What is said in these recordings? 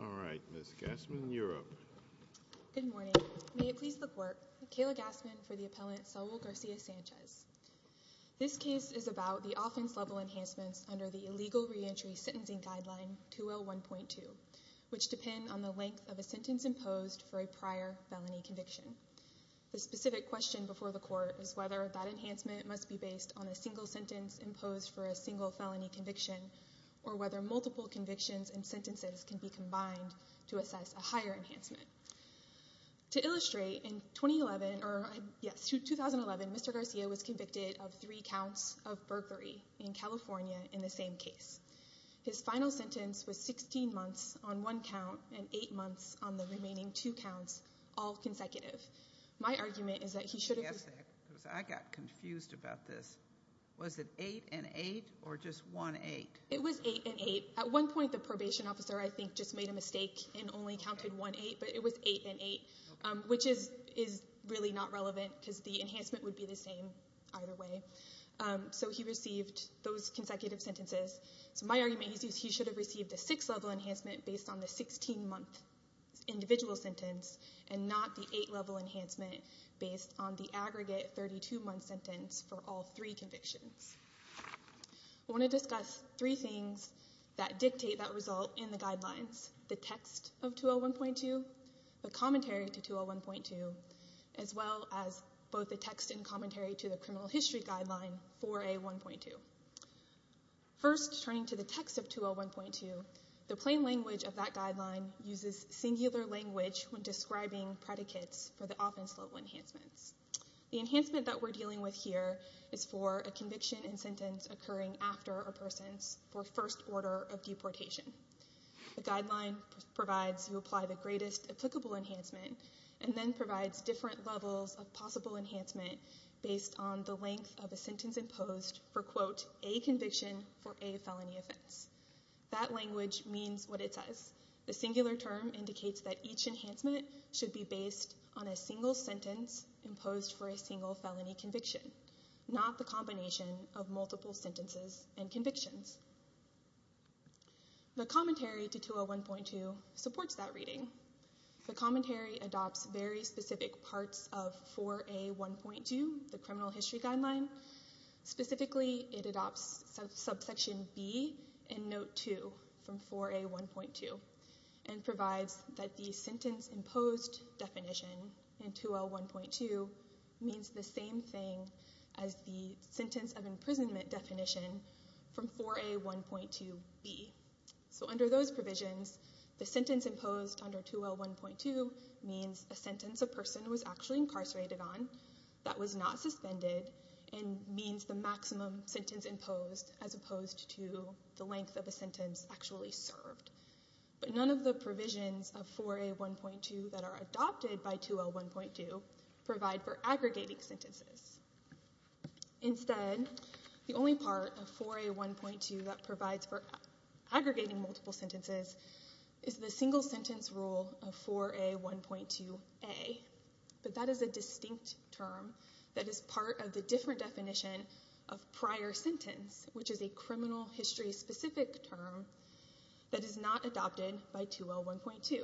All right, Ms. Gassman, you're up. Good morning. May it please the Court, Kayla Gassman for the appellant Saul Garcia-Sanchez. This case is about the offense-level enhancements under the Illegal Reentry Sentencing Guideline 201.2, which depend on the length of a sentence imposed for a prior felony conviction. The specific question before the Court is whether that enhancement must be based on a single sentence imposed for a single felony conviction or whether multiple convictions and sentences can be combined to assess a higher enhancement. To illustrate, in 2011, Mr. Garcia was convicted of three counts of burglary in California in the same case. His final sentence was 16 months on one count and eight months on the remaining two counts, all consecutive. My argument is that he should have... I got confused about this. Was it eight and eight or just one eight? It was eight and eight. At one point, the probation officer, I think, just made a mistake and only counted one eight, but it was eight and eight, which is really not relevant because the enhancement would be the same either way. So he received those consecutive sentences. So my argument is he should have received a six-level enhancement based on the 16-month individual sentence and not the eight-level enhancement based on the aggregate 32-month sentence for all three convictions. I want to discuss three things that dictate that result in the guidelines, the text of 201.2, the commentary to 201.2, as well as both the text and commentary to the criminal history guideline 4A1.2. First, turning to the text of 201.2, the plain language of that guideline uses singular language when describing predicates for the offense-level enhancements. The enhancement that we're dealing with here is for a conviction and sentence occurring after a person's first order of deportation. The guideline provides you apply the greatest applicable enhancement and then provides different levels of possible enhancement based on the length of a sentence imposed for, quote, a conviction for a felony offense. That language means what it says. The singular term indicates that each enhancement should be based on a single sentence imposed for a single felony conviction, not the combination of multiple sentences and convictions. The commentary to 201.2 supports that reading. The commentary adopts very specific parts of 4A1.2, the criminal history guideline. Specifically, it adopts subsection B in note 2 from 4A1.2 and provides that the sentence-imposed definition in 201.2 means the same thing as the sentence of imprisonment definition from 4A1.2B. So under those provisions, the sentence imposed under 201.2 means a sentence a person was actually incarcerated on that was not suspended and means the maximum sentence imposed as opposed to the length of a sentence actually served. But none of the provisions of 4A1.2 that are adopted by 201.2 provide for aggregating sentences. Instead, the only part of 4A1.2 that provides for aggregating multiple sentences is the single sentence rule of 4A1.2A. But that is a distinct term that is part of the different definition of prior sentence, which is a criminal history-specific term that is not adopted by 201.2.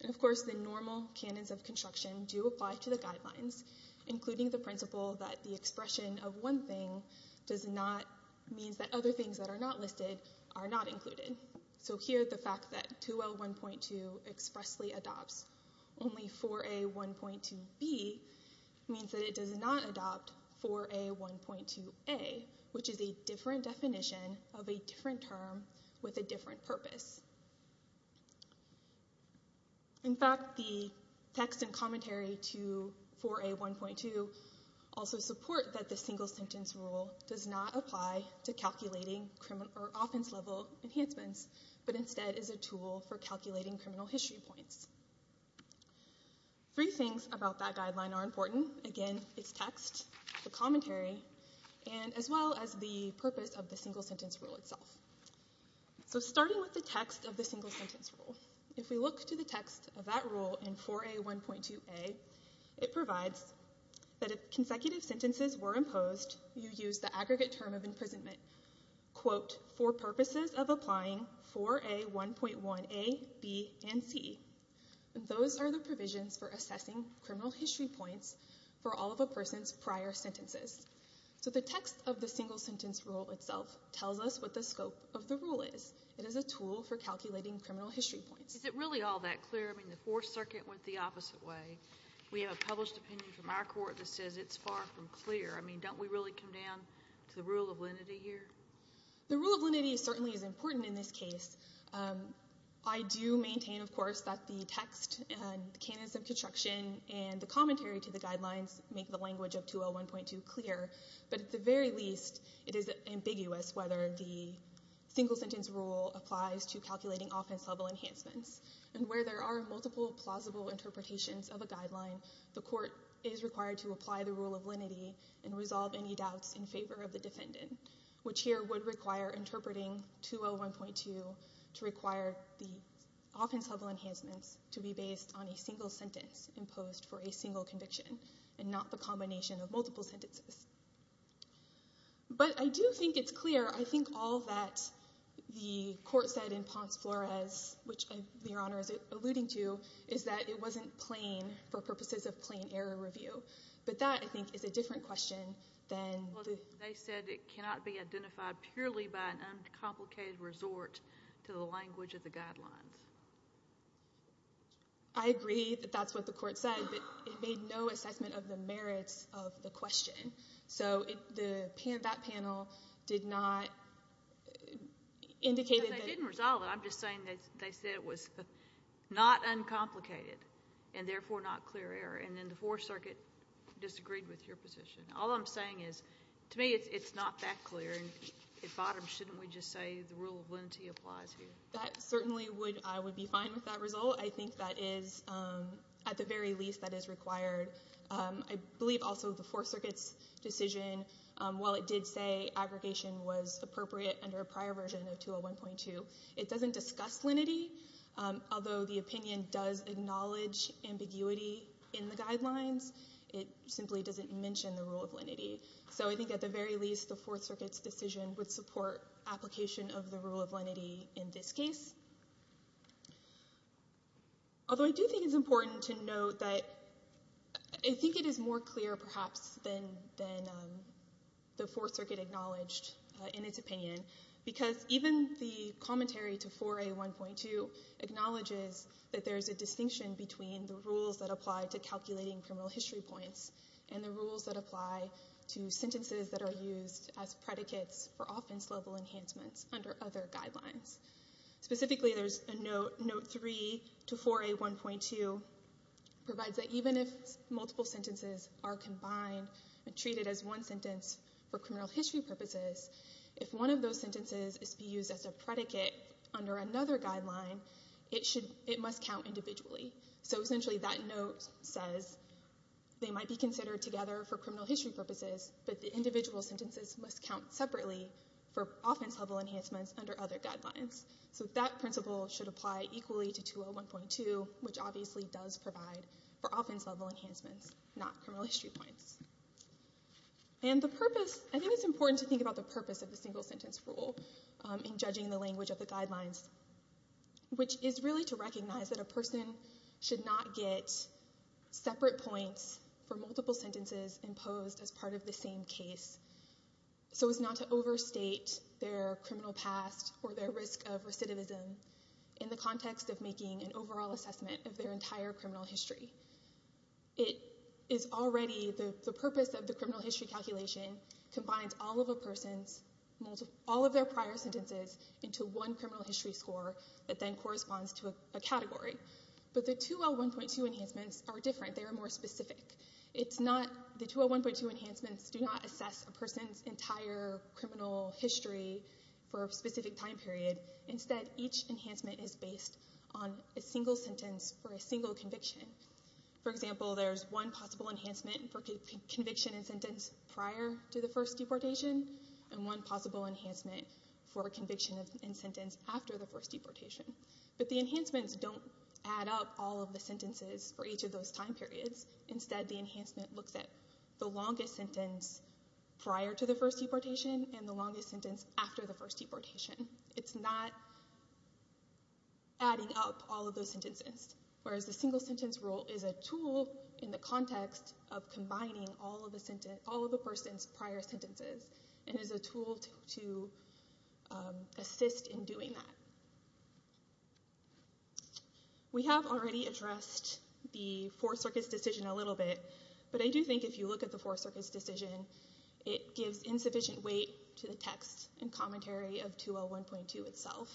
And of course, the normal canons of construction do apply to the guidelines, including the principle that the expression of one thing does not mean that other things that are not listed are not included. So here, the fact that 201.2 expressly adopts only 4A1.2B means that it does not adopt 4A1.2A, which is a different definition of a different term with a different purpose. In fact, the text and commentary to 4A1.2 also support that the single sentence rule does not apply to calculating offense-level enhancements, but instead is a tool for calculating criminal history points. Three things about that guideline are important. Again, it's text, the commentary, and as well as the purpose of the single sentence rule itself. So starting with the text of the single sentence rule, if we look to the text of that rule in 4A1.2A, it provides that if consecutive sentences were imposed, you use the aggregate term of imprisonment, quote, for purposes of applying 4A1.1A, B, and C. And those are the provisions for assessing criminal history points for all of a person's prior sentences. So the text of the single sentence rule itself tells us what the scope of the rule is. It is a tool for calculating criminal history points. Is it really all that clear? I mean, the Fourth Circuit went the opposite way. We have a published opinion from our court that says it's far from clear. I mean, don't we really come down to the rule of lenity here? The rule of lenity certainly is important in this case. I do maintain, of course, that the text and the canons of construction and the commentary to the guidelines make the language of 201.2 clear. But at the very least, it is ambiguous whether the single sentence rule applies to calculating offense-level enhancements. And where there are multiple plausible interpretations of a guideline, the court is required to apply the rule of lenity and resolve any doubts in favor of the defendant, which here would require interpreting 201.2 to require the offense-level enhancements to be based on a single sentence imposed for a single conviction and not the combination of multiple sentences. But I do think it's clear. I think all that the court said in Ponce-Flores, which Your Honor is alluding to, is that it wasn't plain for purposes of plain error review. But that, I think, is a different question than— They said it cannot be identified purely by an uncomplicated resort to the language of the guidelines. I agree that that's what the court said, but it made no assessment of the merits of the question. So that panel did not indicate that— They didn't resolve it. I'm just saying they said it was not uncomplicated and therefore not clear error. And then the Fourth Circuit disagreed with your position. All I'm saying is, to me, it's not that clear. And at bottom, shouldn't we just say the rule of lenity applies here? That certainly would—I would be fine with that result. I think that is, at the very least, that is required. I believe also the Fourth Circuit's decision, while it did say aggregation was appropriate under a prior version of 201.2, it doesn't discuss lenity, although the opinion does acknowledge ambiguity in the guidelines. It simply doesn't mention the rule of lenity. So I think, at the very least, the Fourth Circuit's decision would support application of the rule of lenity in this case. Although I do think it's important to note that— I think it is more clear, perhaps, than the Fourth Circuit acknowledged in its opinion, because even the commentary to 4A.1.2 acknowledges that there is a distinction between the rules that apply to calculating criminal history points and the rules that apply to sentences that are used as predicates for offense-level enhancements under other guidelines. Specifically, there's a note, note 3 to 4A.1.2, provides that even if multiple sentences are combined and treated as one sentence for criminal history purposes, if one of those sentences is to be used as a predicate under another guideline, it must count individually. So essentially, that note says they might be considered together for criminal history purposes, but the individual sentences must count separately for offense-level enhancements under other guidelines. So that principle should apply equally to 201.2, which obviously does provide for offense-level enhancements, not criminal history points. I think it's important to think about the purpose of the single-sentence rule in judging the language of the guidelines, which is really to recognize that a person should not get separate points for multiple sentences imposed as part of the same case, so as not to overstate their criminal past or their risk of recidivism in the context of making an overall assessment of their entire criminal history. It is already, the purpose of the criminal history calculation combines all of a person's, all of their prior sentences into one criminal history score that then corresponds to a category. But the 201.2 enhancements are different, they are more specific. It's not, the 201.2 enhancements do not assess a person's entire criminal history for a specific time period. Instead, each enhancement is based on a single sentence for a single conviction. For example, there's one possible enhancement for conviction and sentence prior to the first deportation, and one possible enhancement for conviction and sentence after the first deportation. But the enhancements don't add up all of the sentences for each of those time periods. Instead the enhancement looks at the longest sentence prior to the first deportation, and the longest sentence after the first deportation. It's not adding up all of those sentences. Whereas the single sentence rule is a tool in the context of combining all of the person's prior sentences, and is a tool to assist in doing that. We have already addressed the Four Circuit's decision a little bit, but I do think if you look at the Four Circuit's decision, it gives insufficient weight to the text and commentary of 2L1.2 itself,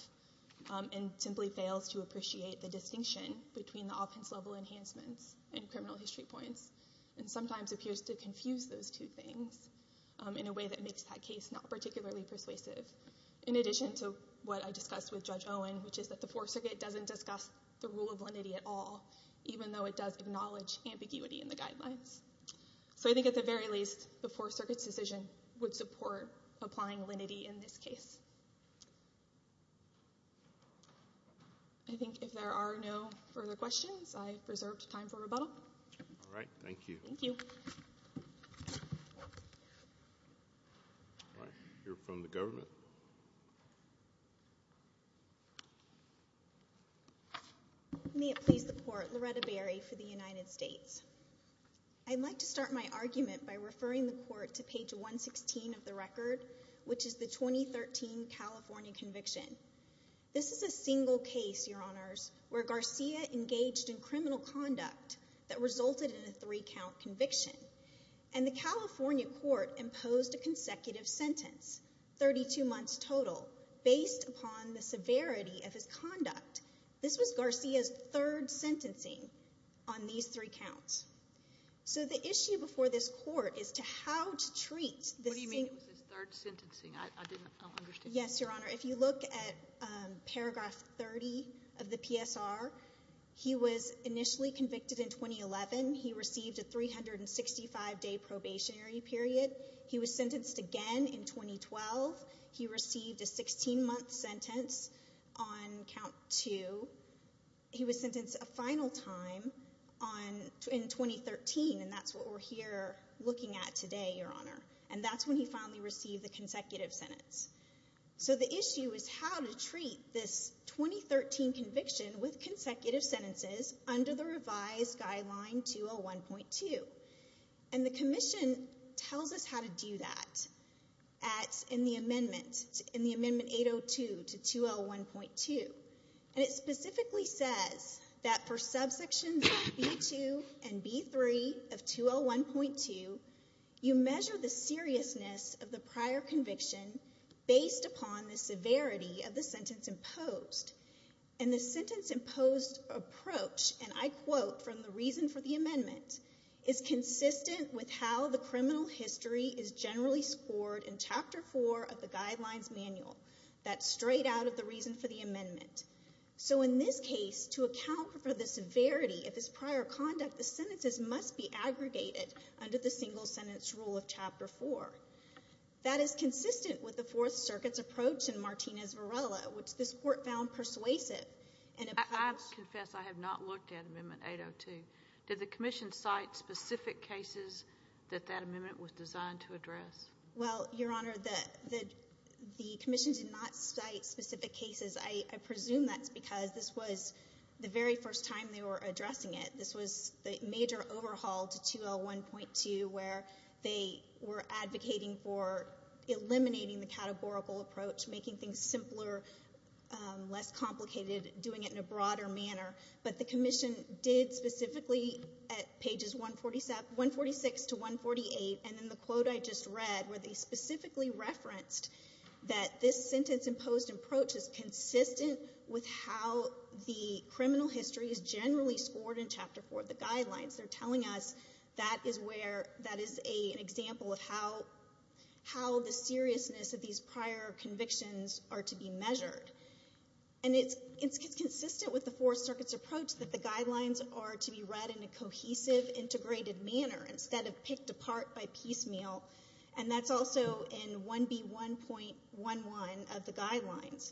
and simply fails to appreciate the distinction between the offense-level enhancements and criminal history points, and sometimes appears to confuse those two things in a way that makes that case not particularly persuasive. In addition to what I discussed with Judge Owen, which is that the Four Circuit doesn't discuss the rule of lenity at all, even though it does acknowledge ambiguity in the guidelines. So I think at the very least, the Four Circuit's decision would support applying lenity in this case. I think if there are no further questions, I have reserved time for rebuttal. All right. Thank you. Thank you. We'll hear from the government. Thank you. May it please the Court, Loretta Berry for the United States. I'd like to start my argument by referring the Court to page 116 of the record, which is the 2013 California conviction. This is a single case, Your Honors, where Garcia engaged in criminal conduct that resulted in a three-count conviction, and the California court imposed a consecutive sentence, 32 months total, based upon the severity of his conduct. This was Garcia's third sentencing on these three counts. So the issue before this court is to how to treat the same— What do you mean it was his third sentencing? I don't understand. Yes, Your Honor. If you look at paragraph 30 of the PSR, he was initially convicted in 2011. He received a 365-day probationary period. He was sentenced again in 2012. He received a 16-month sentence on count two. He was sentenced a final time in 2013, and that's what we're here looking at today, Your Honor. And that's when he finally received the consecutive sentence. So the issue is how to treat this 2013 conviction with consecutive sentences under the revised guideline 201.2. And the commission tells us how to do that in the amendment, in the amendment 802 to 201.2. And it specifically says that for subsections B-2 and B-3 of 201.2, you measure the seriousness of the prior conviction based upon the severity of the sentence imposed. And the sentence imposed approach, and I quote from the reason for the amendment, is consistent with how the criminal history is generally scored in Chapter 4 of the Guidelines Manual. That's straight out of the reason for the amendment. So in this case, to account for the severity of his prior conduct, the sentences must be aggregated under the single-sentence rule of Chapter 4. That is consistent with the Fourth Circuit's approach in Martinez-Varela, which this Court found persuasive. I confess I have not looked at Amendment 802. Did the commission cite specific cases that that amendment was designed to address? Well, Your Honor, the commission did not cite specific cases. I presume that's because this was the very first time they were addressing it. This was the major overhaul to 201.2 where they were advocating for eliminating the categorical approach, making things simpler, less complicated, doing it in a broader manner. But the commission did specifically at pages 146 to 148, and in the quote I just read where they specifically referenced that this sentence imposed approach is consistent with how the criminal history is generally scored in Chapter 4 of the Guidelines. They're telling us that is an example of how the seriousness of these prior convictions are to be measured. And it's consistent with the Fourth Circuit's approach that the Guidelines are to be read in a cohesive, integrated manner instead of picked apart by piecemeal, and that's also in 1B1.11 of the Guidelines.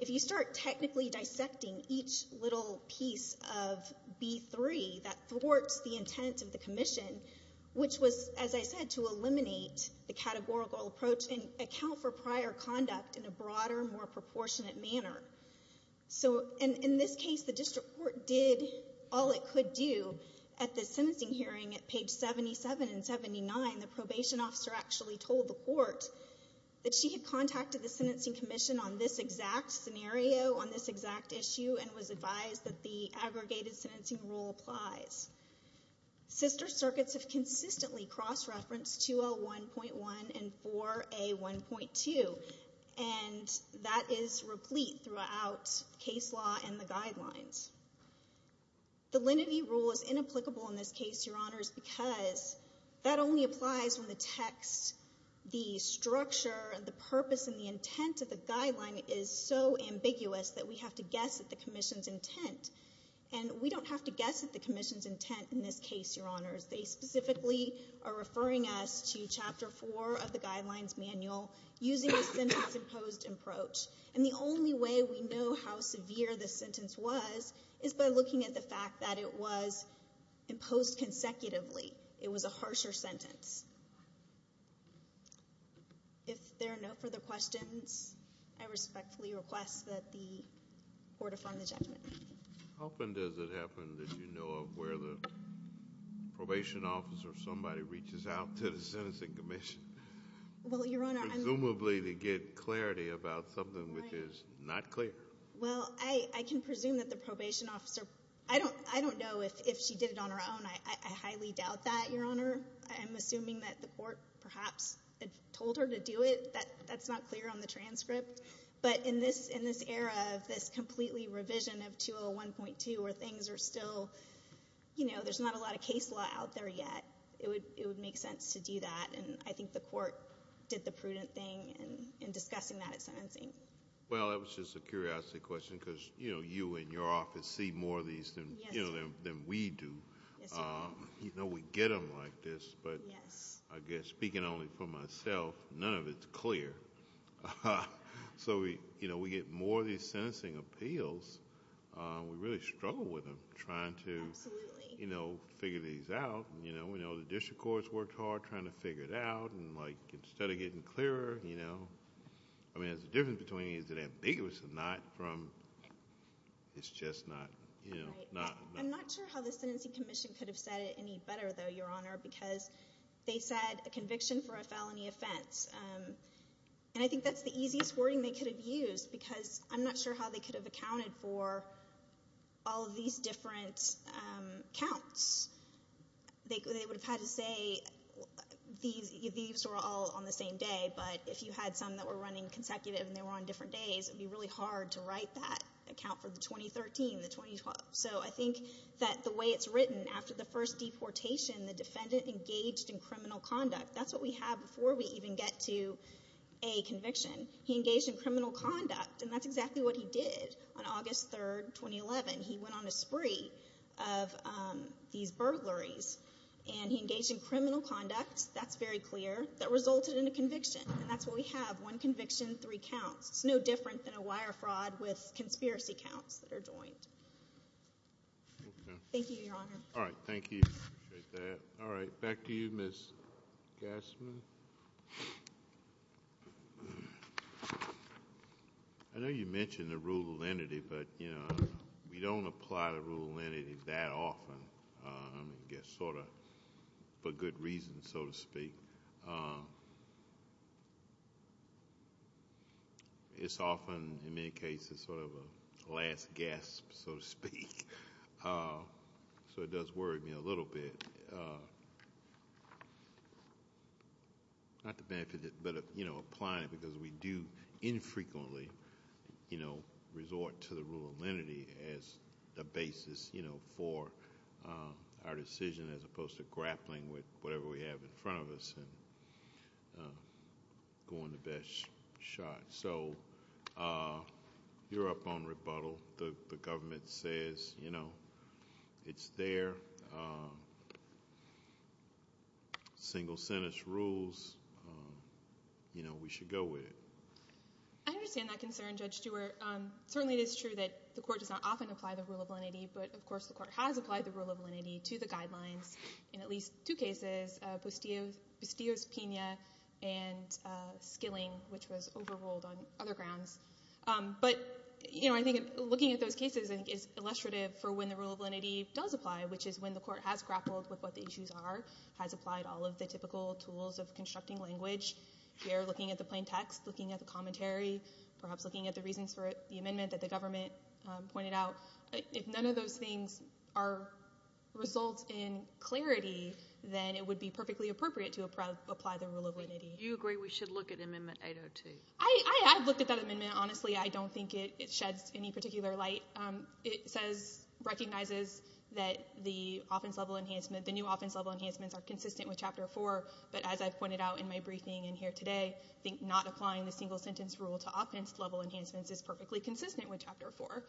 If you start technically dissecting each little piece of B3 that thwarts the intent of the commission, which was, as I said, to eliminate the categorical approach and account for prior conduct in a broader, more proportionate manner. So in this case, the district court did all it could do. At the sentencing hearing at page 77 and 79, the probation officer actually told the court that she had contacted the Sentencing Commission on this exact scenario, on this exact issue, and was advised that the aggregated sentencing rule applies. Sister circuits have consistently cross-referenced 201.1 and 4A1.2, and that is replete throughout case law and the Guidelines. The lenity rule is inapplicable in this case, Your Honors, because that only applies when the text, the structure, the purpose, and the intent of the Guideline is so ambiguous that we have to guess at the commission's intent. And we don't have to guess at the commission's intent in this case, Your Honors. They specifically are referring us to Chapter 4 of the Guidelines Manual using a sentence-imposed approach. And the only way we know how severe the sentence was is by looking at the fact that it was imposed consecutively. It was a harsher sentence. If there are no further questions, I respectfully request that the court affirm the judgment. How often does it happen that you know of where the probation officer, somebody, reaches out to the Sentencing Commission? Presumably to get clarity about something which is not clear. Well, I can presume that the probation officer, I don't know if she did it on her own. I highly doubt that, Your Honor. I'm assuming that the court perhaps told her to do it. That's not clear on the transcript. But in this era of this completely revision of 201.2 where things are still, you know, there's not a lot of case law out there yet, it would make sense to do that. And I think the court did the prudent thing in discussing that at sentencing. Well, that was just a curiosity question because, you know, you and your office see more of these than we do. You know, we get them like this, but I guess, speaking only for myself, none of it's clear. So, you know, we get more of these sentencing appeals. We really struggle with them trying to, you know, figure these out. You know, we know the district courts worked hard trying to figure it out. And, like, instead of getting clearer, you know, I mean, there's a difference between is it ambiguous or not from it's just not, you know, not. I'm not sure how the sentencing commission could have said it any better, though, Your Honor, because they said a conviction for a felony offense. And I think that's the easiest wording they could have used because I'm not sure how they could have accounted for all of these different counts. They would have had to say these were all on the same day, but if you had some that were running consecutive and they were on different days, it would be really hard to write that account for the 2013, the 2012. So I think that the way it's written, after the first deportation, the defendant engaged in criminal conduct. That's what we have before we even get to a conviction. He engaged in criminal conduct, and that's exactly what he did on August 3, 2011. He went on a spree of these burglaries, and he engaged in criminal conduct. That's very clear. That resulted in a conviction, and that's what we have, one conviction, three counts. It's no different than a wire fraud with conspiracy counts that are joined. Thank you, Your Honor. All right. Thank you. I appreciate that. All right. Back to you, Ms. Gassman. I know you mentioned the rule of lenity, but, you know, we don't apply the rule of lenity that often, I guess sort of for good reason, so to speak. It's often, in many cases, sort of a last gasp, so to speak. So it does worry me a little bit. Not to benefit it, but, you know, applying it because we do infrequently, you know, resort to the rule of lenity as a basis, you know, for our decision, as opposed to grappling with whatever we have in front of us and going to best shot. So you're up on rebuttal. The government says, you know, it's their single sentence rules. You know, we should go with it. I understand that concern, Judge Stewart. Certainly it is true that the court does not often apply the rule of lenity, but, of course, the court has applied the rule of lenity to the guidelines in at least two cases, Postillo's Pena and Skilling, which was overruled on other grounds. But, you know, I think looking at those cases is illustrative for when the rule of lenity does apply, which is when the court has grappled with what the issues are, has applied all of the typical tools of constructing language. We are looking at the plain text, looking at the commentary, perhaps looking at the reasons for the amendment that the government pointed out. If none of those things are results in clarity, then it would be perfectly appropriate to apply the rule of lenity. Do you agree we should look at Amendment 802? I've looked at that amendment. Honestly, I don't think it sheds any particular light. It says, recognizes that the offense-level enhancement, the new offense-level enhancements are consistent with Chapter 4, but as I pointed out in my briefing in here today, I think not applying the single sentence rule to offense-level enhancements is perfectly consistent with Chapter 4.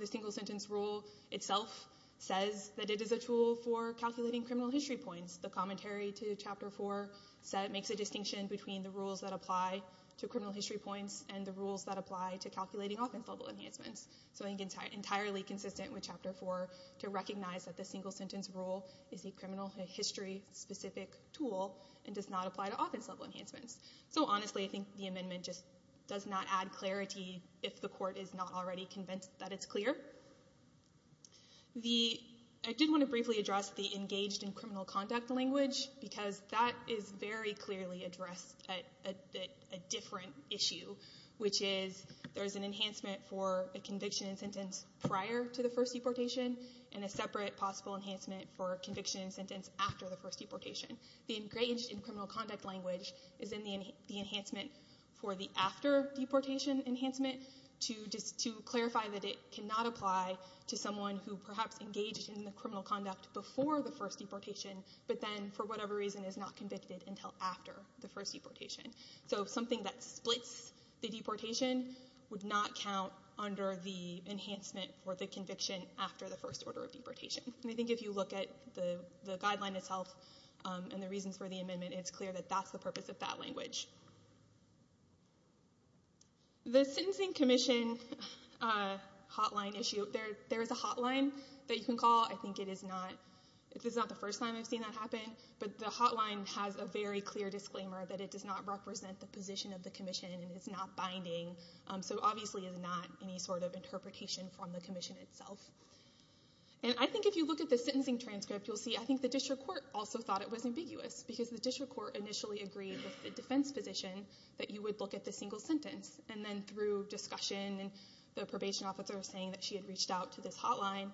The single sentence rule itself says that it is a tool for calculating criminal history points. The commentary to Chapter 4 makes a distinction between the rules that apply to criminal history points and the rules that apply to calculating offense-level enhancements. So I think it's entirely consistent with Chapter 4 to recognize that the single sentence rule is a criminal history-specific tool and does not apply to offense-level enhancements. So honestly, I think the amendment just does not add clarity if the court is not already convinced that it's clear. I did want to briefly address the engaged in criminal conduct language because that is very clearly addressed at a different issue, which is there's an enhancement for a conviction and sentence prior to the first deportation and a separate possible enhancement for conviction and sentence after the first deportation. The engaged in criminal conduct language is in the enhancement for the after deportation enhancement to clarify that it cannot apply to someone who perhaps engaged in the criminal conduct before the first deportation but then for whatever reason is not convicted until after the first deportation. So something that splits the deportation would not count under the enhancement for the conviction after the first order of deportation. And I think if you look at the guideline itself and the reasons for the amendment, it's clear that that's the purpose of that language. The sentencing commission hotline issue, there is a hotline that you can call. I think it is not the first time I've seen that happen, but the hotline has a very clear disclaimer that it does not represent the position of the commission and it's not binding, so obviously there's not any sort of interpretation from the commission itself. And I think if you look at the sentencing transcript, you'll see I think the district court also thought it was ambiguous because the district court initially agreed with the defense position that you would look at the single sentence and then through discussion and the probation officer saying that she had reached out to this hotline,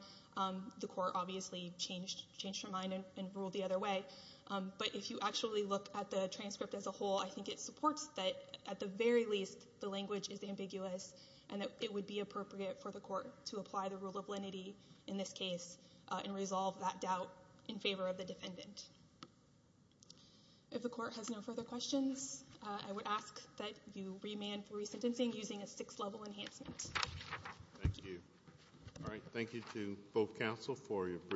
the court obviously changed her mind and ruled the other way. But if you actually look at the transcript as a whole, I think it supports that at the very least the language is ambiguous and that it would be appropriate for the court to apply the rule of lenity in this case and resolve that doubt in favor of the defendant. If the court has no further questions, I would ask that you remand for resentencing using a six-level enhancement. Thank you. All right, thank you to both counsel for your brief.